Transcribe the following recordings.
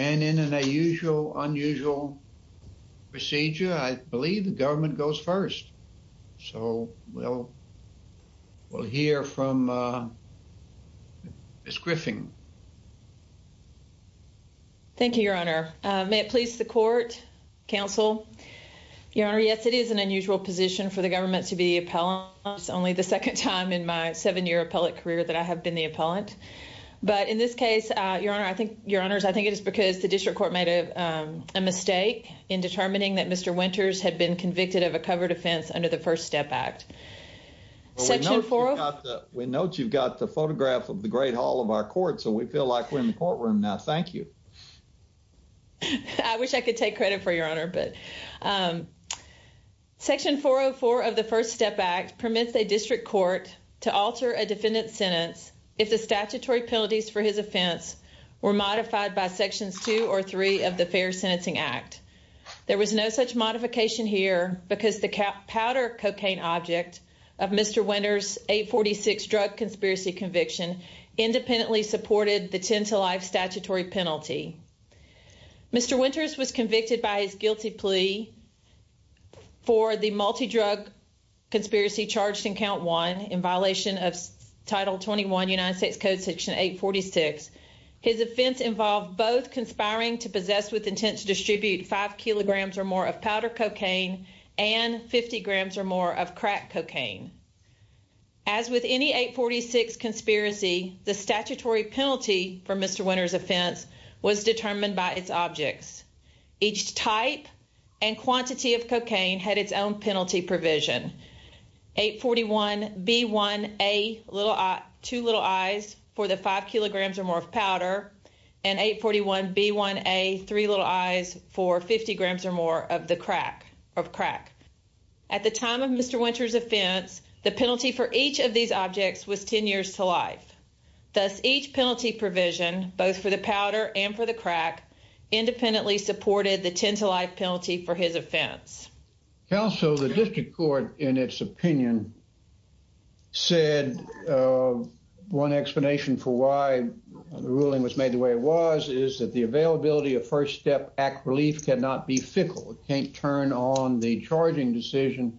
And in an unusual, unusual procedure, I believe the government goes first. So we'll, we'll hear from Ms. Griffin. Thank you, Your Honor. May it please the court, counsel. Your Honor, yes, it is an unusual position for the government to be the appellant. It's only the second time in my seven-year appellate career that I have been the appellant. But in this case, Your Honor, I think, Your Honors, I think it is because the district court made a mistake in determining that Mr. Winters had been convicted of a covered offense under the First Step Act. Section 404 of the First Step Act permits a district court to alter a defendant's sentence if the statutory penalties for his offense were modified by Sections 2 or 3 of the Fair Sentencing Act. There was no such modification here because the powder cocaine object of Mr. Winters' 846 drug conspiracy conviction independently supported the 10-to-life statutory penalty. Mr. Winters was convicted by his guilty plea for the multi-drug conspiracy charged in Count 1 in violation of Title 21 United States Code Section 846. His offense involved both conspiring to possess with intent to distribute 5 kilograms or more of powder cocaine and 50 grams or more of crack cocaine. As with any 846 conspiracy, the statutory penalty for Mr. Winters' offense was determined by its objects. Each type and quantity of 841B1A, two little I's for the 5 kilograms or more of powder, and 841B1A, three little I's for 50 grams or more of crack. At the time of Mr. Winters' offense, the penalty for each of these objects was 10 years to life. Thus, each penalty provision, both for the powder and for the crack, independently supported the 10-to-life penalty for his offense. Counsel, the district court, in its opinion, said one explanation for why the ruling was made the way it was is that the availability of First Step Act relief cannot be fickle. It can't turn on the charging decision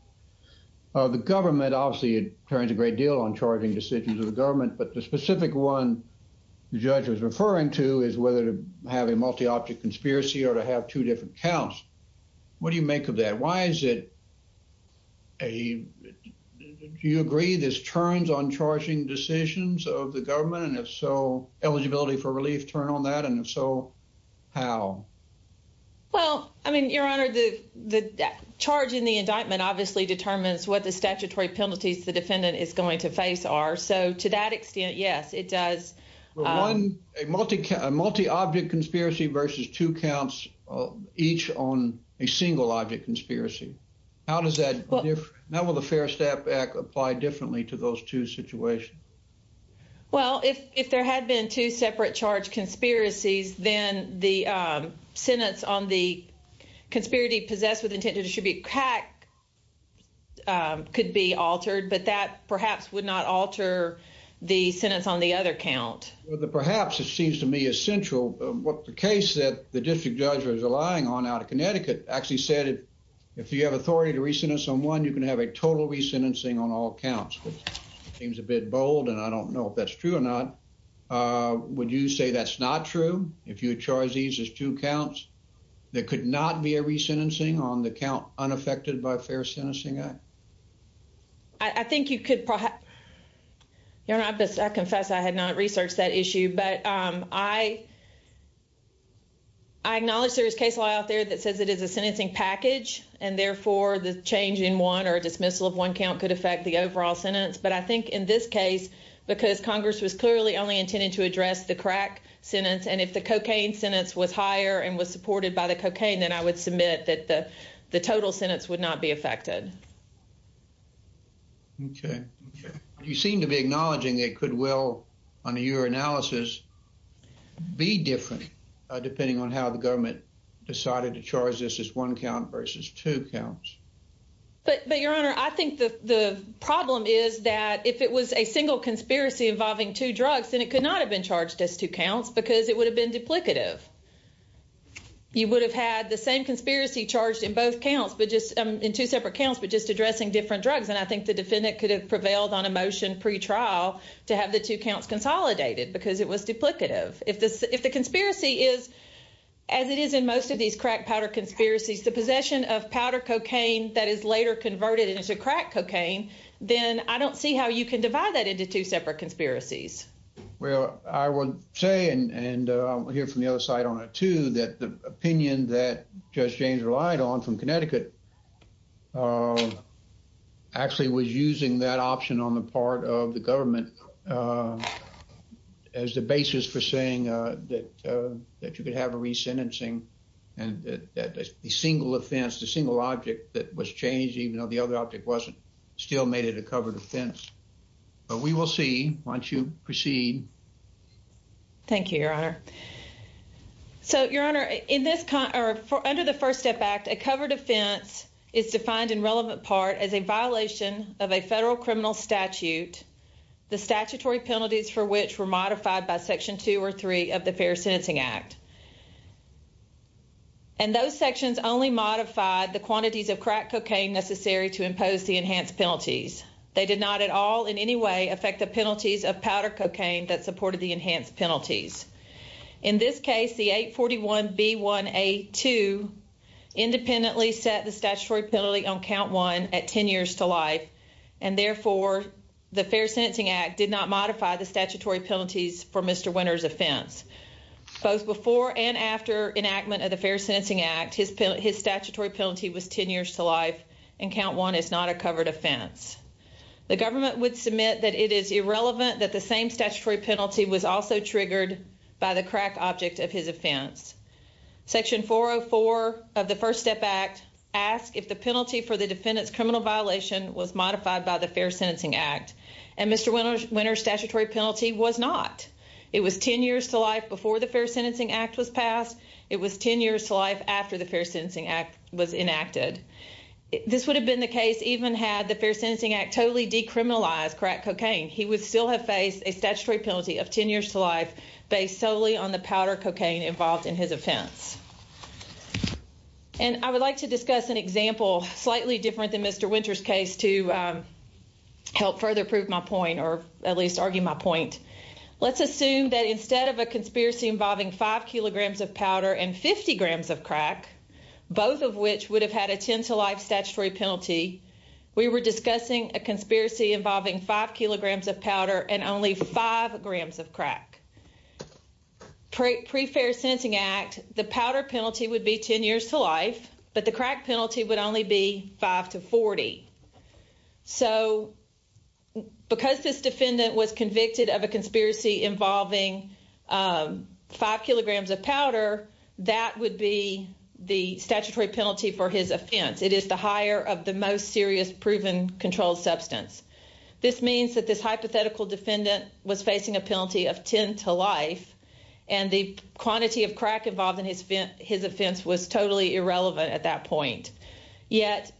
of the government. Obviously, it turns a great deal on charging decisions of the government, but the specific one the judge was referring to is whether to have a multi-object conspiracy or to have two different counts. What do you make of that? Why is it a—do you agree this turns on charging decisions of the government, and if so, eligibility for relief turn on that, and if so, how? Well, I mean, Your Honor, the charge in the indictment obviously determines what the statutory penalties the defendant is going to face are. So, to that extent, yes, it does— A multi-object conspiracy versus two counts each on a single-object conspiracy, how does that differ? How will the First Step Act apply differently to those two situations? Well, if there had been two separate charge conspiracies, then the sentence on the conspiracy possessed with intent to distribute crack could be altered, but that perhaps would not alter the sentence on the other count. Well, perhaps it seems to me essential. The case that the district judge was relying on out of Connecticut actually said if you have authority to re-sentence on one, you can have a total re-sentencing on all counts, which seems a bit bold, and I don't know if that's true or not. Would you say that's not true? If your charge is just two counts, there could not be a re-sentencing on the count unaffected by a fair sentencing act. I think you could—Your Honor, I confess I had not researched that issue, but I acknowledge there is case law out there that says it is a sentencing package, and therefore the change in one or dismissal of one count could affect the overall sentence, but I think in this case, because Congress was clearly only intended to address the crack sentence, and if the cocaine sentence was higher and was supported by the cocaine, then I would submit that the total sentence would not be affected. Okay. You seem to be acknowledging it could well, under your analysis, be different depending on how the government decided to charge this as one count versus two counts. But, Your Honor, I think the problem is that if it was a single conspiracy involving two drugs, then it could not have been charged as two counts because it would have been duplicative. You would have had the same conspiracy charged in both counts, but just—in two separate counts, but just addressing different drugs, and I think the defendant could have prevailed on a motion pretrial to have the two counts consolidated because it was duplicative. If the conspiracy is, as it is in most of these crack powder conspiracies, the possession of powder cocaine that is later converted into crack cocaine, then I don't see how you can divide that into two separate conspiracies. Well, I would say, and I'll hear from the side on it, too, that the opinion that Judge James relied on from Connecticut actually was using that option on the part of the government as the basis for saying that you could have a resentencing and that a single offense, the single object that was changed, even though the other object wasn't, still made it a covered offense. But we will see once you proceed. Thank you, Your Honor. So, Your Honor, in this—or under the First Step Act, a covered offense is defined in relevant part as a violation of a federal criminal statute, the statutory penalties for which were modified by Section 2 or 3 of the Fair Sentencing Act. And those sections only modified the quantities of crack cocaine necessary to impose the enhanced penalties. They did not at all in any way affect the penalties of powder cocaine that supported the enhanced penalties. In this case, the 841B1A2 independently set the statutory penalty on count one at 10 years to life. And therefore, the Fair Sentencing Act did not modify the statutory penalties for Mr. Winter's offense. Both before and after enactment of the Fair Sentencing Act, his statutory penalty was 10 years to life. And Mr. Winter's statutory penalty was not. It was 10 years to life before the Fair Sentencing Act was passed. It was 10 years to life after the Fair Sentencing Act was enacted. This would have been the case even had the Fair Sentencing Act totally decriminalized crack cocaine. He would still have faced a statutory penalty of 10 years to life based solely on the powder cocaine involved in his offense. And I would like to discuss an example slightly different than Mr. Winter's case to help further prove my point or at least argue my point. Let's assume that instead of a conspiracy involving 5 kilograms of powder and 50 grams of crack, both of which would have had a 10 to life statutory penalty. We were discussing a conspiracy involving 5 kilograms of powder and only 5 grams of crack. Pre-Fair Sentencing Act, the powder penalty would be 10 years to life, but the crack penalty would only be 5 to 40. So because this defendant was convicted of a conspiracy involving 5 kilograms of powder, that would be the statutory penalty for his offense. It is the higher of the most serious proven controlled substance. This means that this hypothetical defendant was facing a penalty of 10 to life and the quantity of crack involved in his offense was totally irrelevant at that point. Yet,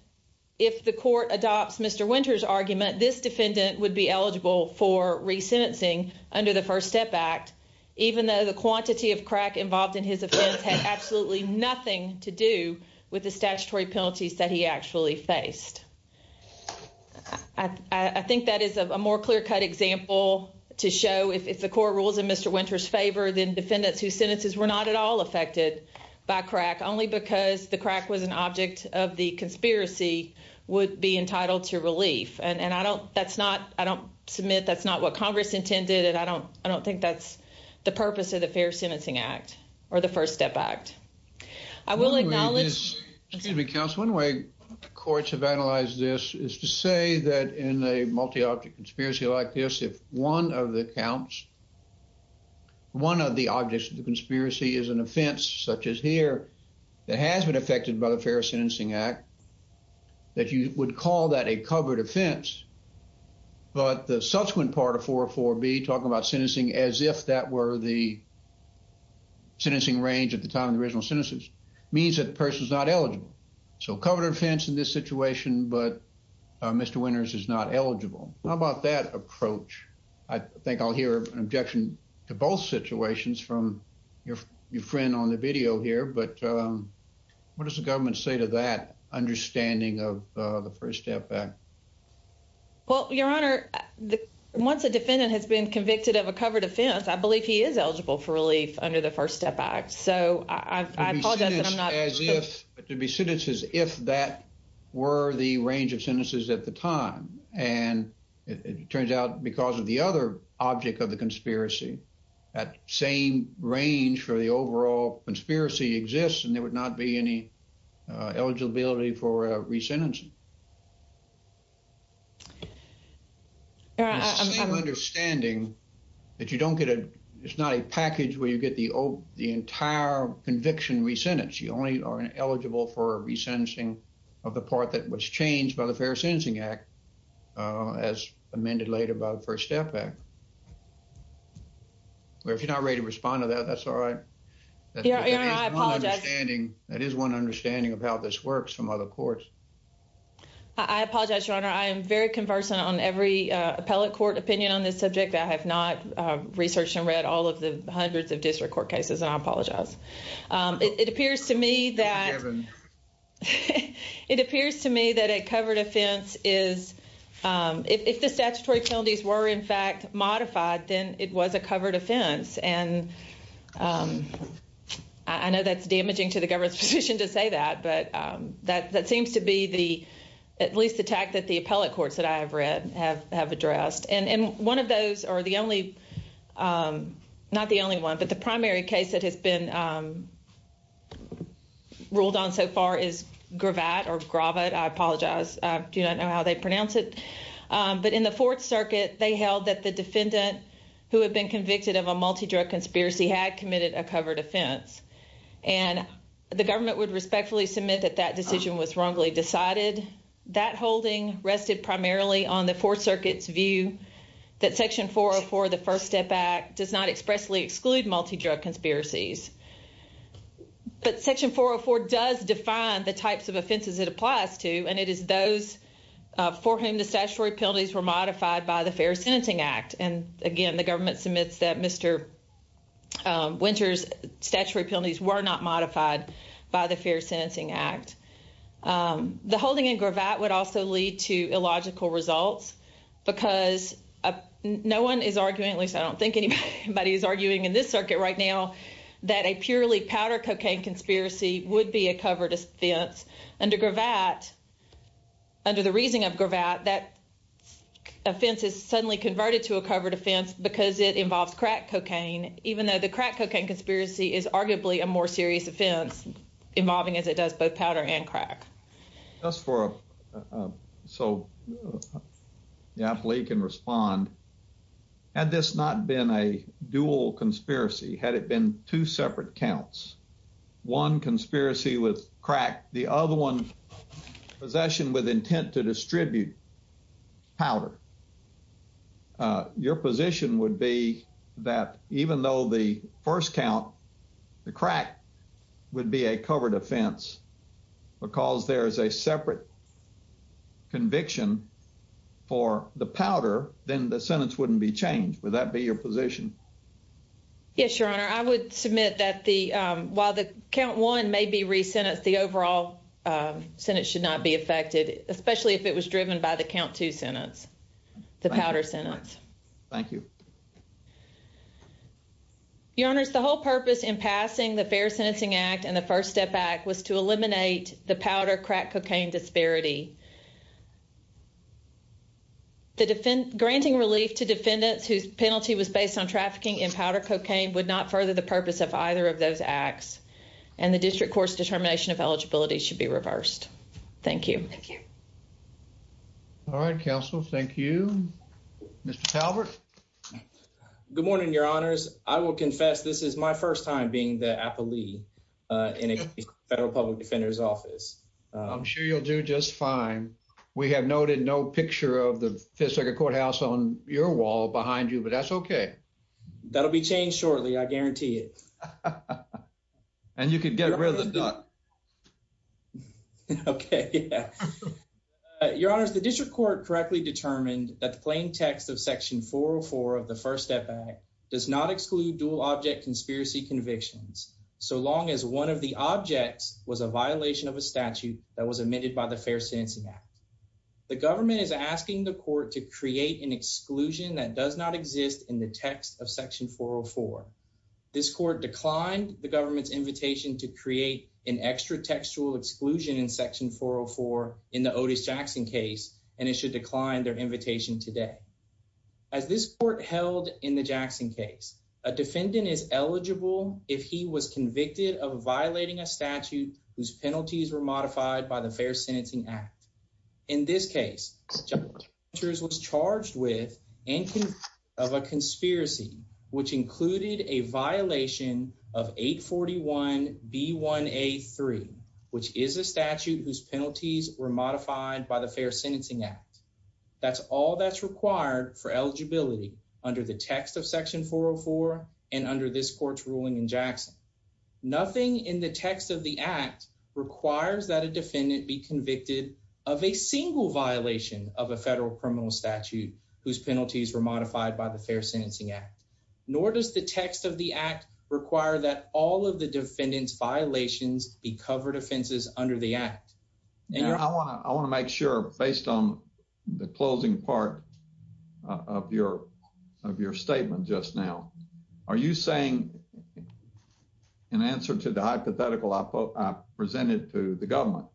if the court adopts Mr. Winter's argument, this defendant would be eligible for re-sentencing under the First Step Act even though the quantity of crack involved in his offense had absolutely nothing to do with the statutory penalties that he actually faced. I think that is a more clear-cut example to show if the court rules in Mr. Winter's favor, then defendants whose sentences were not at all affected by crack only because the crack was an object of the conspiracy would be entitled to relief. I don't submit that's not what Congress intended and I don't think that's the purpose of the Fair Sentencing Act or the First Step Act. I will acknowledge... Excuse me, counsel. One way courts have analyzed this is to say that in a multi-object conspiracy like this, if one of the counts, one of the objects of the conspiracy is an offense such as here that has been affected by the Fair Sentencing Act, that you would call that a covered offense. But the subsequent part of 404B, talking about sentencing as if that were the sentencing range at the time of the original sentences, means that the person is not eligible. So covered offense in this situation, but Mr. Winter's is not eligible. How about that approach? I think I'll hear an objection to both situations from your friend on the video here, but what does the government say to that understanding of the First Step Act? Well, Your Honor, once a defendant has been convicted of a covered offense, I believe he is eligible for relief under the First Step Act. So I apologize that I'm not... To be sentenced as if that were the range of sentences at the time. And it turns out because of the other object of the conspiracy, that same range for the overall conspiracy exists and there is a same understanding that it's not a package where you get the entire conviction resentenced. You only are eligible for a resentencing of the part that was changed by the Fair Sentencing Act as amended later by the First Step Act. Well, if you're not ready to respond to that, that's all right. Your Honor, I apologize. That is one understanding of how this works from other courts. I apologize, Your Honor. I am very conversant on every appellate court opinion on this subject. I have not researched and read all of the hundreds of district court cases and I apologize. It appears to me that a covered offense is... If the statutory penalties were in fact damaging to the government's position to say that, but that seems to be the, at least, the tact that the appellate courts that I have read have addressed. And one of those are the only... Not the only one, but the primary case that has been ruled on so far is Gravatt or Gravatt, I apologize. I do not know how they pronounce it. But in the Fourth Circuit, they held that the defendant who had been convicted of a the government would respectfully submit that that decision was wrongly decided. That holding rested primarily on the Fourth Circuit's view that Section 404 of the First Step Act does not expressly exclude multi-drug conspiracies. But Section 404 does define the types of offenses it applies to and it is those for whom the statutory penalties were modified by the Fair Sentencing Act. And again, the government submits that Mr. Winter's statutory penalties were not modified by the Fair Sentencing Act. The holding in Gravatt would also lead to illogical results because no one is arguing, at least I don't think anybody is arguing in this circuit right now, that a purely powder cocaine conspiracy would be a covered offense. Under Gravatt, under the reasoning of Gravatt, that offense is suddenly converted to a covered offense because it involves crack cocaine, even though the crack cocaine conspiracy is arguably a more serious offense involving, as it does, both powder and crack. Just for a, so the athlete can respond. Had this not been a dual conspiracy, had it been two separate counts, one conspiracy with crack, the other one possession with intent to distribute powder, your position would be that even though the first count, the crack, would be a covered offense because there is a separate conviction for the powder, then the sentence wouldn't be changed. Would that be your position? Yes, Your Honor. I would submit that the, while the count one may be re-sentenced, the overall sentence should not be affected, especially if it was driven by the count two sentence, the powder sentence. Thank you. Your Honors, the whole purpose in passing the Fair Sentencing Act and the First Step Act was to eliminate the powder crack cocaine disparity. The defendant, granting relief to defendants whose penalty was based on trafficking in powder cocaine, would not further the purpose of either of those acts, and the district court's determination of eligibility should be reversed. Thank you. Thank you. All right, counsel. Thank you. Mr. Talbert. Good morning, Your Honors. I will confess this is my first time being the appellee in a federal public defender's office. I'm sure you'll do just fine. We have noted no picture of Fifth Circuit Courthouse on your wall behind you, but that's okay. That'll be changed shortly, I guarantee it. And you could get rid of the duck. Okay, yeah. Your Honors, the district court correctly determined that the plain text of Section 404 of the First Step Act does not exclude dual object conspiracy convictions, so long as one of the objects was a violation of a statute that was amended by the Fair Sentencing Act. The government is asking the court to create an exclusion that does not exist in the text of Section 404. This court declined the government's invitation to create an extra textual exclusion in Section 404 in the Otis Jackson case, and it should decline their invitation today. As this court held in the Jackson case, a defendant is eligible if he was convicted of violating a statute whose penalties were modified by the Fair Sentencing Act. In this case, Judge Rogers was charged with and convicted of a conspiracy which included a violation of 841B1A3, which is a statute whose penalties were modified by the Fair Sentencing Act. That's all that's required for eligibility under the text of Section 404 and under this in the text of the act requires that a defendant be convicted of a single violation of a federal criminal statute whose penalties were modified by the Fair Sentencing Act, nor does the text of the act require that all of the defendant's violations be covered offenses under the act. I want to make sure, based on the closing part of your statement just now, are you saying that in answer to the hypothetical I presented to the government,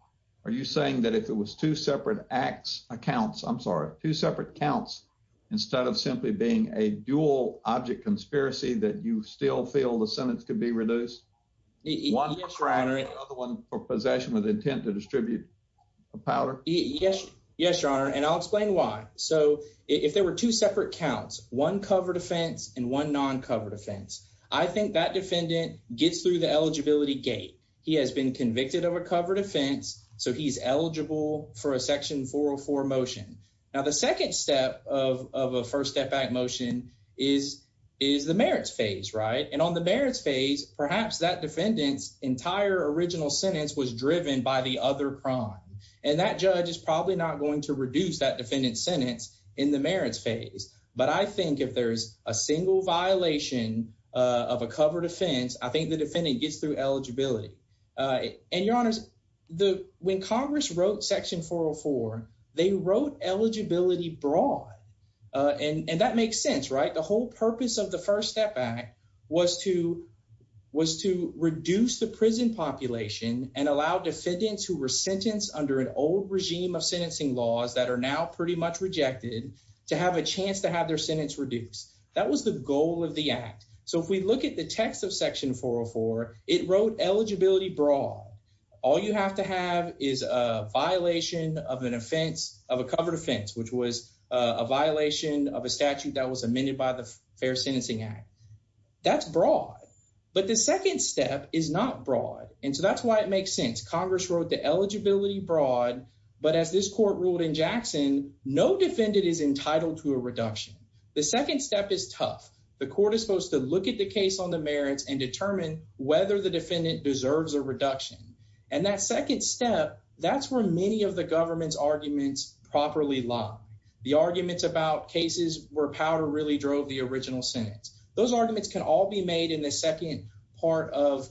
are you saying that if it was two separate acts, accounts, I'm sorry, two separate counts instead of simply being a dual object conspiracy that you still feel the sentence could be reduced? One for possession with intent to distribute a powder? Yes, yes, your honor, and I'll explain why. So if there were two separate counts, one covered offense and one non-covered offense, I think that defendant gets through the eligibility gate. He has been convicted of a covered offense, so he's eligible for a Section 404 motion. Now the second step of a First Step Act motion is the merits phase, right? And on the merits phase, perhaps that defendant's entire original sentence was driven by the other crime, and that judge is probably not going to reduce that defendant's sentence in the merits phase, but I think if there's a single violation of a covered offense, I think the defendant gets through eligibility. And your honors, when Congress wrote Section 404, they wrote eligibility broad, and that makes sense, right? The whole purpose of the First Step Act was to reduce the prison population and allow defendants who were sentenced under an old regime of sentencing laws that are now pretty much rejected to have a chance to have their sentence reduced. That was the goal of the Act. So if we look at the text of Section 404, it wrote eligibility broad. All you have to have is a violation of an offense, of a covered offense, which was a violation of a statute that was amended by the Fair Sentencing Act. That's broad, but the second step is not broad, and so that's why it makes sense. Congress wrote the eligibility broad, but as this court ruled in Jackson, no defendant is entitled to a reduction. The second step is tough. The court is supposed to look at the case on the merits and determine whether the defendant deserves a reduction, and that second step, that's where many of the government's arguments properly lie. The arguments about cases where powder really drove the original sentence, those arguments can all be made in the second part of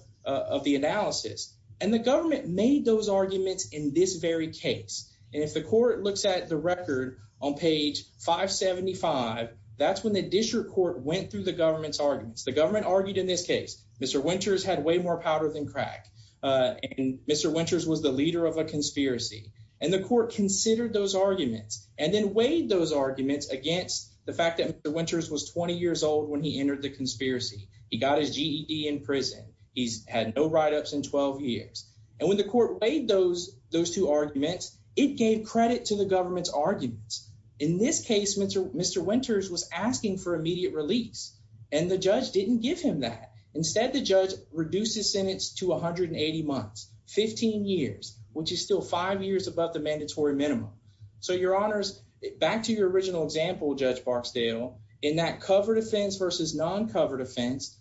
the analysis, and the government made those arguments in this very case, and if the court looks at the record on page 575, that's when the district court went through the government's arguments. The government argued in this case Mr. Winters had way more powder than crack, and Mr. Winters was the leader of a conspiracy, and the court considered those arguments and then weighed those arguments against the fact that Mr. Winters was 20 years old when he entered the conspiracy. He got his GED in prison. He's had no write-ups in 12 years, and when the court weighed those those two arguments, it gave credit to the government's arguments. In this case, Mr. Winters was asking for immediate release, and the judge didn't give him that. Instead, the judge reduced his sentence to 180 months, 15 years, which is still five years above the mandatory minimum. So, your honors, back to your original example, Judge Barksdale, in that covered offense versus non-covered offense,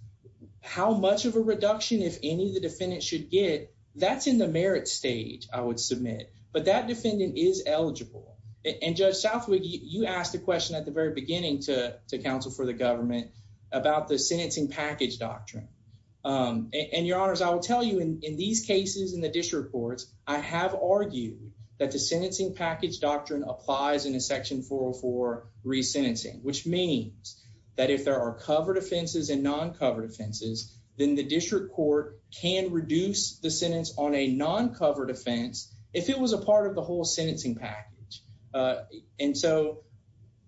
how much of a reduction, if any, the defendant should get, that's in the merit stage, I would submit, but that defendant is eligible, and Judge Southwick, you asked the question at the very beginning to counsel for the government about the sentencing package doctrine, and your honors, I will tell you in these cases in the district courts, I have argued that the doctrine applies in a section 404 re-sentencing, which means that if there are covered offenses and non-covered offenses, then the district court can reduce the sentence on a non-covered offense if it was a part of the whole sentencing package, and so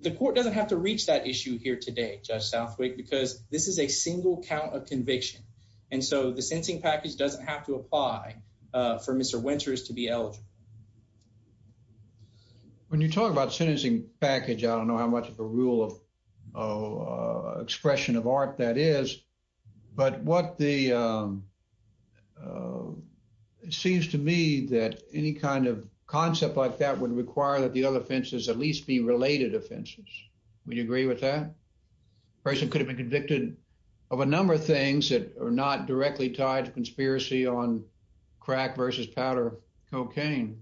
the court doesn't have to reach that issue here today, Judge Southwick, because this is a single count of conviction, and so the sentencing package doesn't have to apply for Mr. Winters to be eligible. When you talk about sentencing package, I don't know how much of a rule of expression of art that is, but what the, it seems to me that any kind of concept like that would require that the other offenses at least be related offenses. Would you agree with that? A person could have been convicted of a number of or not directly tied to conspiracy on crack versus powder cocaine.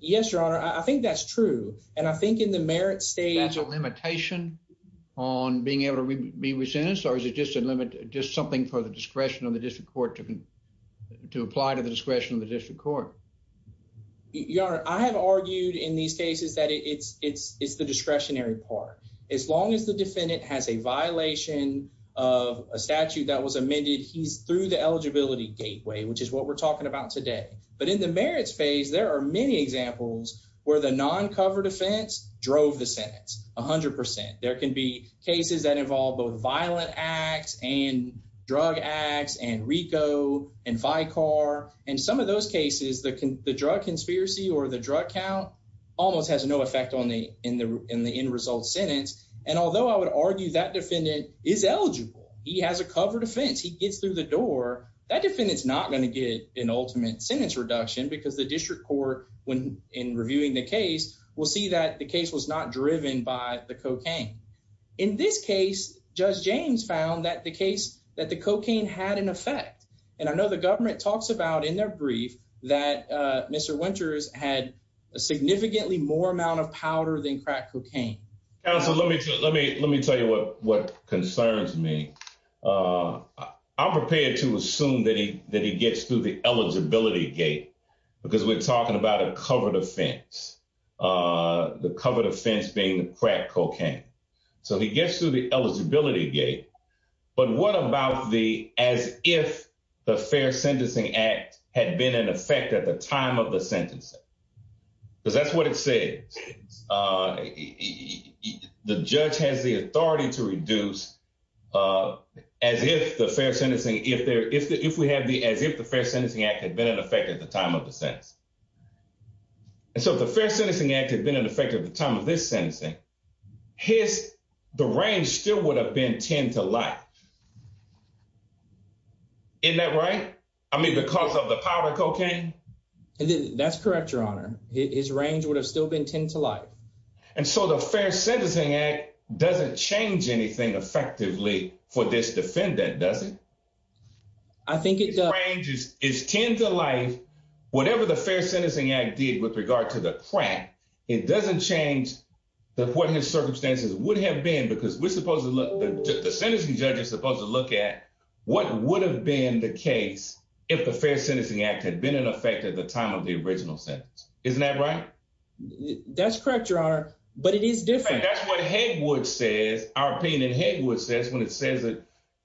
Yes, your honor, I think that's true, and I think in the merit state, that's a limitation on being able to be re-sentenced, or is it just a limit, just something for the discretion of the district court to apply to the discretion of the district court? Your honor, I have argued in these cases that it's the discretionary part. As long as the defendant has a violation of a statute that was amended, he's through the eligibility gateway, which is what we're talking about today, but in the merits phase, there are many examples where the non-covered offense drove the sentence 100%. There can be cases that involve both violent acts and drug acts and RICO and Vicar, and some of those cases, the drug conspiracy or the drug count almost has no effect in the end result sentence, and although I would argue that defendant is eligible, he has a covered offense, he gets through the door, that defendant's not going to get an ultimate sentence reduction because the district court, in reviewing the case, will see that the case was not driven by the cocaine. In this case, Judge James found that the cocaine had an effect, and I know the in their brief that Mr. Winters had a significantly more amount of powder than crack cocaine. Counsel, let me tell you what concerns me. I'm prepared to assume that he gets through the eligibility gate, because we're talking about a covered offense, the covered offense being the crack cocaine, so he gets through the eligibility gate, but what about the as if the Fair Sentencing Act had been in effect at the time of the sentencing? Because that's what it says. The judge has the authority to reduce as if the Fair Sentencing Act had been in effect at the time of the sentence, and so if the Fair Sentencing Act had been in effect at the time of this I mean, because of the powder cocaine? That's correct, Your Honor. His range would have still been ten to life. And so the Fair Sentencing Act doesn't change anything effectively for this defendant, does it? I think it does. His range is ten to life. Whatever the Fair Sentencing Act did with regard to the crack, it doesn't change what his circumstances would have been, because we're supposed to look at what would have been the case if the Fair Sentencing Act had been in effect at the time of the original sentence. Isn't that right? That's correct, Your Honor, but it is different. That's what our opinion in Hegwood says when it says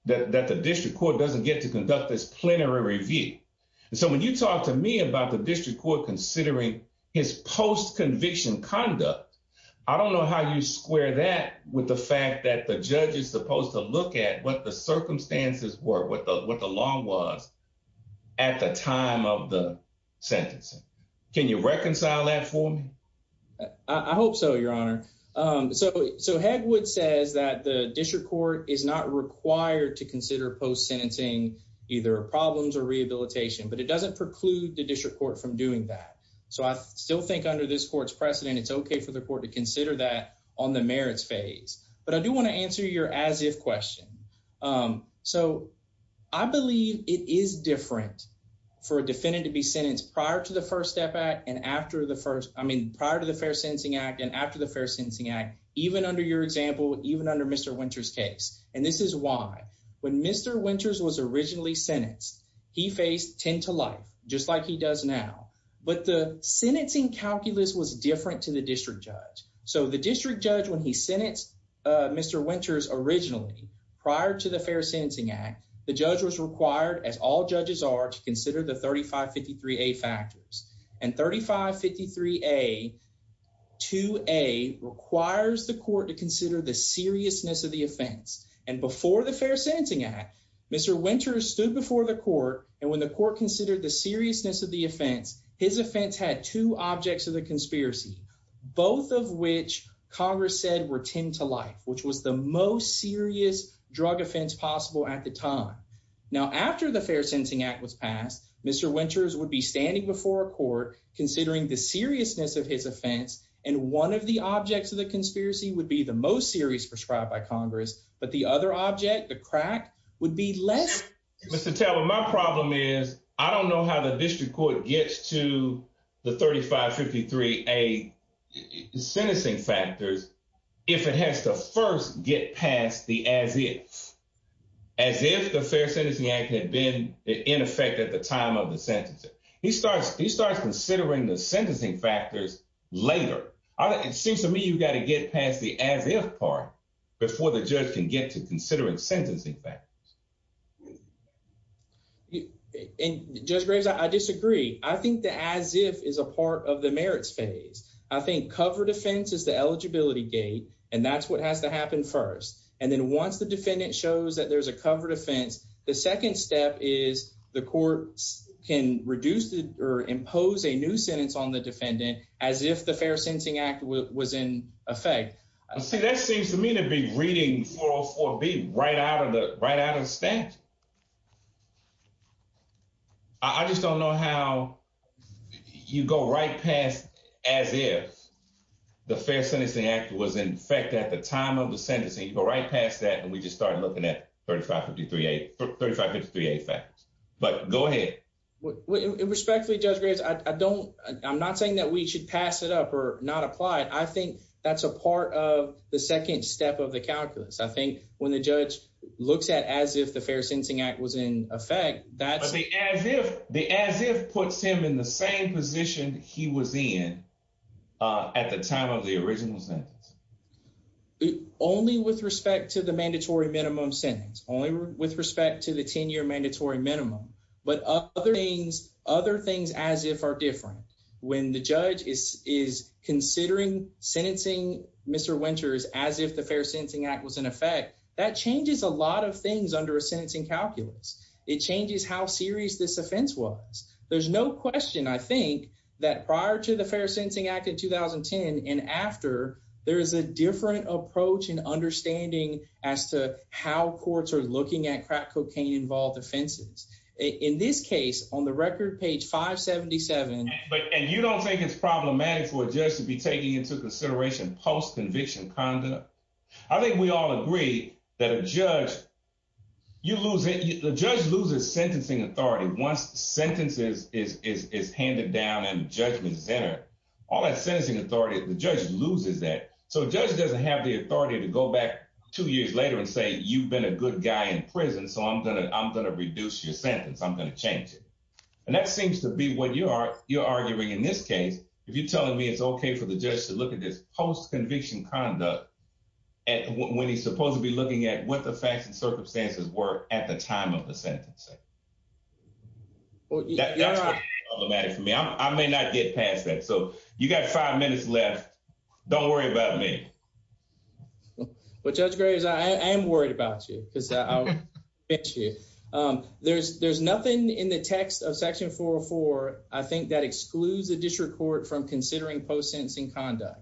that the district court doesn't get to conduct this plenary review. So when you talk to me about the district court considering his post-conviction conduct, I don't know how you square that with the fact that the judge is considering what the circumstances were, what the what the long was at the time of the sentencing. Can you reconcile that for me? I hope so, Your Honor. So Hegwood says that the district court is not required to consider post-sentencing either problems or rehabilitation, but it doesn't preclude the district court from doing that. So I still think under this court's precedent, it's okay for the court to consider that on the merits phase. But I do want to answer your as-if question. So I believe it is different for a defendant to be sentenced prior to the First Step Act and after the first, I mean prior to the Fair Sentencing Act and after the Fair Sentencing Act, even under your example, even under Mr. Winters' case. And this is why. When Mr. Winters was originally sentenced, he faced 10 to life, just like he does now. But the sentencing calculus was different to the district judge when he sentenced Mr. Winters originally. Prior to the Fair Sentencing Act, the judge was required, as all judges are, to consider the 3553A factors. And 3553A requires the court to consider the seriousness of the offense. And before the Fair Sentencing Act, Mr. Winters stood before the court, and when the court considered the seriousness of the offense, his offense had two objects of the to life, which was the most serious drug offense possible at the time. Now after the Fair Sentencing Act was passed, Mr. Winters would be standing before a court considering the seriousness of his offense, and one of the objects of the conspiracy would be the most serious prescribed by Congress, but the other object, the crack, would be less. Mr. Taylor, my problem is I don't know how the district court gets to the 3553A sentencing factors if it has to first get past the as-if, as if the Fair Sentencing Act had been in effect at the time of the sentencing. He starts considering the sentencing factors later. It seems to me you've got to get past the as-if part before the judge can get to considering sentencing factors. And Judge Graves, I disagree. I think the as-if is a part of the merits phase. I think cover defense is the eligibility gate, and that's what has to happen first. And then once the defendant shows that there's a cover defense, the second step is the courts can reduce or impose a new sentence on the defendant as if the Fair Sentencing Act was in effect. See, that seems to me to be reading 404B right out of the statute. I just don't know how you go right past as-if. The Fair Sentencing Act was in effect at the time of the sentencing. You go right past that, and we just start looking at 3553A factors. But go ahead. Respectfully, Judge Graves, I'm not saying that we should pass it up or not apply it. I think that's a part of the second step of the calculus. I think when the judge looks at as if the Fair Sentencing Act was in effect, that's... But the as-if puts him in the same position he was in at the time of the original sentence. Only with respect to the mandatory minimum sentence, only with respect to the 10-year mandatory minimum. But other things as-if are different. When the judge is considering sentencing Mr. Winters as if the Fair Sentencing Act was in effect, that changes a lot of things under a sentencing calculus. It changes how serious this offense was. There's no question, I think, that prior to the Fair Sentencing Act in 2010 and after, there is a different approach and understanding as to how courts are looking at crack cocaine-involved offenses. In this case, on the record, page 577... And you don't think it's problematic for a judge to be taking into consideration post-conviction conduct? I think we all agree that a judge, you lose it. The judge loses sentencing authority once the sentence is handed down and judgment is entered. All that sentencing authority, the judge loses that. So, a judge doesn't have the authority to go back two years later and say, you've been a good guy in prison, so I'm going to reduce your sentence. I'm going to change it. And that seems to be what you're arguing in this case. If you're telling me it's okay for the judge to look at this post-conviction conduct when he's supposed to be looking at what the problem is, I may not get past that. So, you got five minutes left. Don't worry about me. Well, Judge Graves, I am worried about you because I'll pinch you. There's nothing in the text of Section 404, I think, that excludes the district court from considering post-sentencing conduct.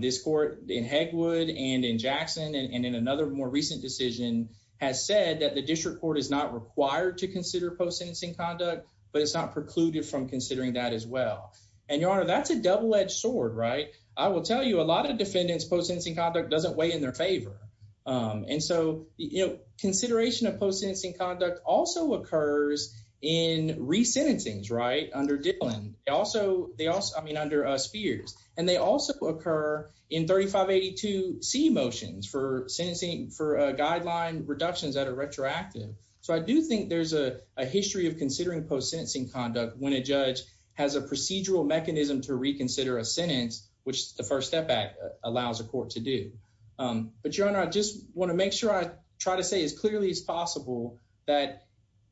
This court in Hegwood and in Jackson and in another more recent decision has said that the district court is not required to consider post-sentencing conduct, but it's not precluded from considering that as well. And, Your Honor, that's a double-edged sword, right? I will tell you, a lot of defendants post-sentencing conduct doesn't weigh in their favor. And so, you know, consideration of post-sentencing conduct also occurs in re-sentencings, right, under Dillon. They also, I mean, under Spears. And they also occur in 3582C motions for sentencing for guideline reductions that are retroactive. So, I do think there's a history of considering post-sentencing conduct when a judge has a procedural mechanism to reconsider a sentence, which the First Step Act allows a court to do. But, Your Honor, I just want to make sure I try to say as clearly as possible that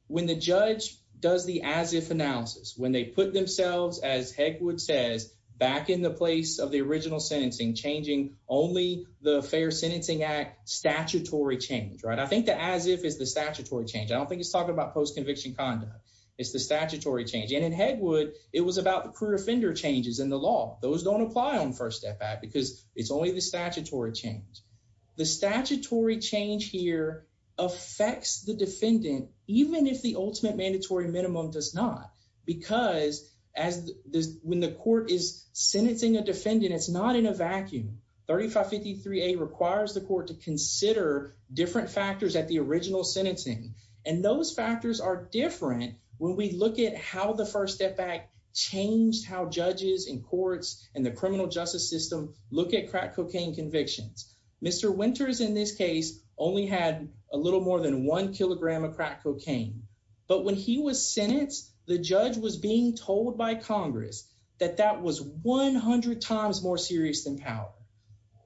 when the judge does the as-if analysis, when they put themselves, as Hegwood says, back in the place of the original sentencing, changing only the Fair Sentencing Act statutory change, right? I think the as-if is the statutory change. I don't think it's talking about post-conviction conduct. It's the statutory change. And in Hegwood, it was about the crude offender changes in the law. Those don't apply on First Step Act, because it's only the statutory change. The statutory change here affects the defendant, even if the ultimate mandatory minimum does not, because when the court is sentencing a defendant, it's not in a vacuum. 3553A requires the court to consider different factors at the original sentencing. And those factors are different when we look at how the First Step Act changed how judges and courts and the criminal justice system look at crack cocaine convictions. Mr. Winters, in this case, only had a little more than one kilogram of crack cocaine. But when he was sentenced, the judge was being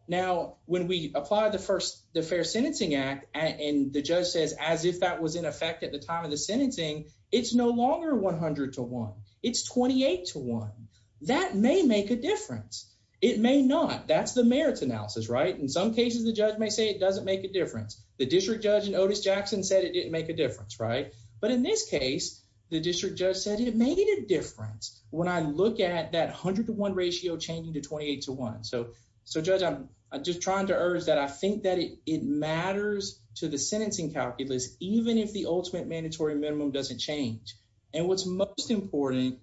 Now, when we apply the Fair Sentencing Act, and the judge says, as if that was in effect at the time of the sentencing, it's no longer 100 to 1. It's 28 to 1. That may make a difference. It may not. That's the merits analysis, right? In some cases, the judge may say it doesn't make a difference. The district judge in Otis Jackson said it didn't make a difference, right? But in this case, the district judge said it made a difference. When I look at that 100 to 1 ratio changing to 28 to 1. So, so judge, I'm just trying to urge that I think that it matters to the sentencing calculus, even if the ultimate mandatory minimum doesn't change. And what's most important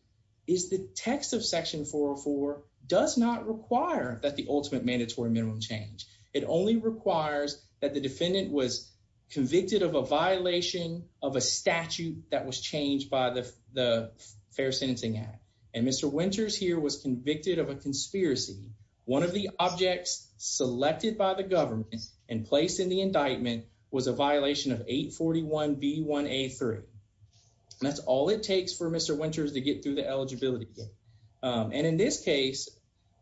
is the text of Section 404 does not require that the ultimate mandatory minimum change. It only requires that the defendant was convicted of a violation of a statute that was changed by the Fair Sentencing Act. And Mr. Winters here was convicted of a conspiracy. One of the objects selected by the government and placed in the indictment was a violation of 841B1A3. That's all it takes for Mr. Winters to get through the eligibility gate. And in this case,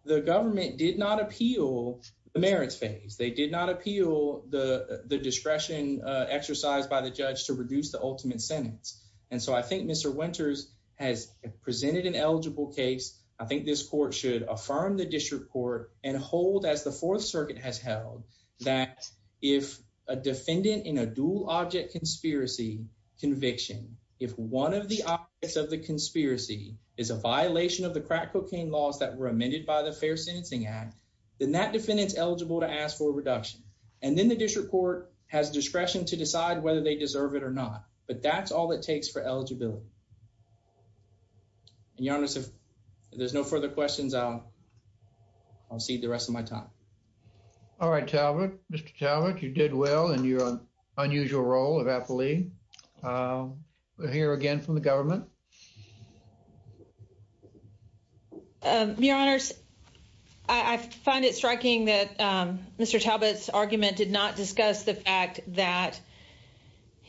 the government did not appeal the merits phase. They did not appeal the discretion exercised by the judge to reduce the ultimate sentence. And so I think Mr. Winters has presented an eligible case. I think this court should affirm the district court and hold as the Fourth Circuit has held that if a defendant in a dual object conspiracy conviction, if one of the objects of the conspiracy is a violation of the crack cocaine laws that were amended by the Fair Sentencing Act, then that defendant's eligible to ask for a reduction. And then the district court has discretion to decide whether they deserve it or not. But that's all it takes for eligibility. And, Your Honor, if there's no further questions, I'll cede the rest of my time. All right, Talbot. Mr. Talbot, you did well in your unusual role of affilee. We'll hear again from the government. Your Honors, I find it striking that Mr. Talbot's argument did not discuss the fact that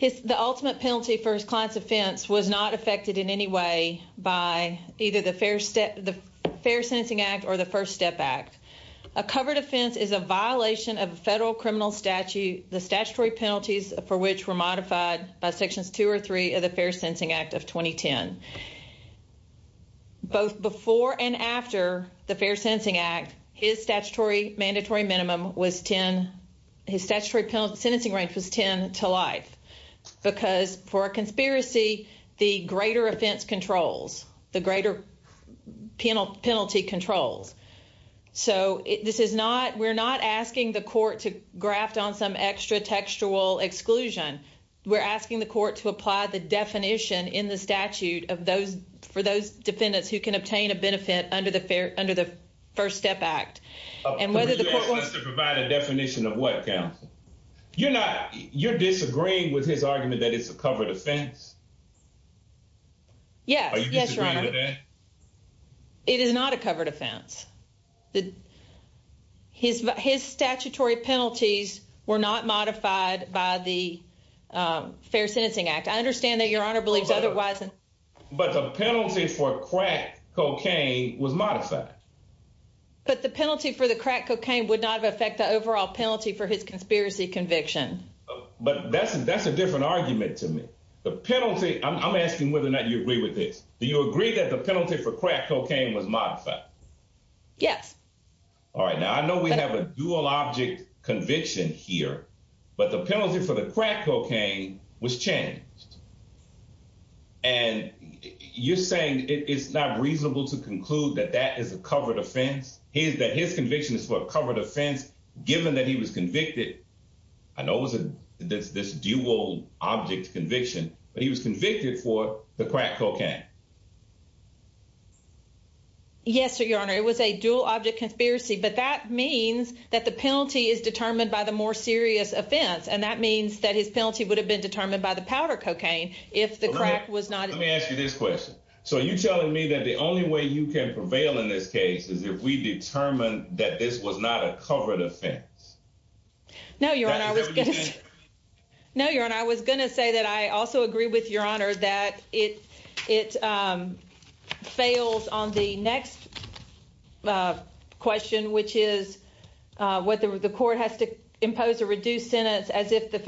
the ultimate penalty for his client's offense was not affected in any way by either the Fair Sentencing Act or the First Step Act. A covered offense is a violation of a federal criminal statute, the statutory penalties for which were modified by Sections 2 or 3 of the Fair Sentencing Act of 2010. Both before and after the Fair Sentencing Act, his statutory mandatory minimum was 10, his statutory sentencing range was 10 to life. Because for a conspiracy, the greater offense controls, the greater penalty controls. So this is not, we're not asking the court to graft on some extra textual exclusion. We're asking the court to apply the definition in the statute of those, for those defendants who can and whether the court wants to provide a definition of what counts. You're not, you're disagreeing with his argument that it's a covered offense? Yes. Are you disagreeing with that? Yes, Your Honor. It is not a covered offense. His statutory penalties were not modified by the Fair Sentencing Act. I understand that Your Honor believes otherwise. But the penalty for crack cocaine was modified. But the penalty for the crack cocaine would not affect the overall penalty for his conspiracy conviction. But that's a different argument to me. The penalty, I'm asking whether or not you agree with this. Do you agree that the penalty for crack cocaine was modified? Yes. All right, now I know we have a dual object conviction here, but the penalty for the crack cocaine was changed. And you're saying it's not reasonable to conclude that that is a covered offense? His, that his conviction is for a covered offense, given that he was convicted, I know it was a, this, this dual object conviction, but he was convicted for the crack cocaine. Yes, Your Honor. It was a dual object conspiracy, but that means that the penalty is determined by the more serious offense. And that means that his penalty would have been determined by the cocaine. If the crack was not, let me ask you this question. So are you telling me that the only way you can prevail in this case is if we determined that this was not a covered offense? No, Your Honor. No, Your Honor. I was going to say that. I also agree with Your Honor that it, it fails on the next question, which is what the court has to impose a reduced sentence as if the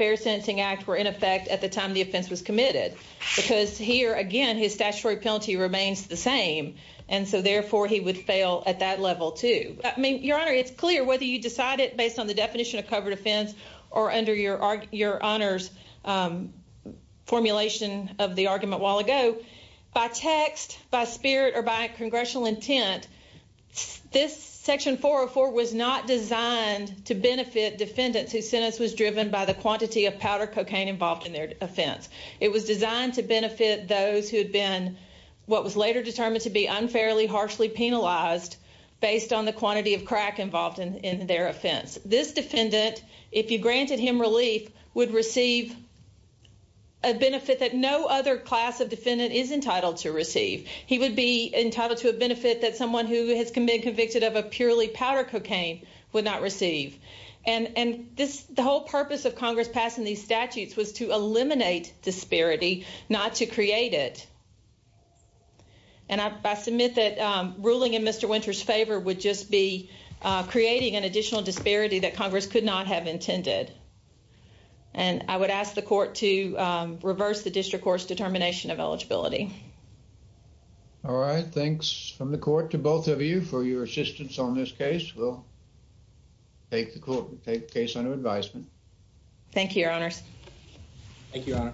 was committed because here again, his statutory penalty remains the same. And so therefore he would fail at that level too. I mean, Your Honor, it's clear whether you decide it based on the definition of covered offense or under your, your honors formulation of the argument while ago by text, by spirit or by congressional intent, this section 404 was not designed to benefit defendants whose sentence was driven by the quantity of powder cocaine involved in their offense. It was designed to benefit those who had been what was later determined to be unfairly harshly penalized based on the quantity of crack involved in their offense. This defendant, if you granted him relief would receive a benefit that no other class of defendant is entitled to receive. He would be entitled to a benefit that someone who has been convicted of a purely powder cocaine would not receive. And, and this, the whole purpose of Congress passing these statutes was to eliminate disparity, not to create it. And I submit that ruling in Mr. Winter's favor would just be creating an additional disparity that Congress could not have intended. And I would ask the court to reverse the district court's determination of eligibility. All right. Thanks from the court to both of you for your assistance on this case. Take the court, take the case under advisement. Thank you, your honors. Thank you, your honor.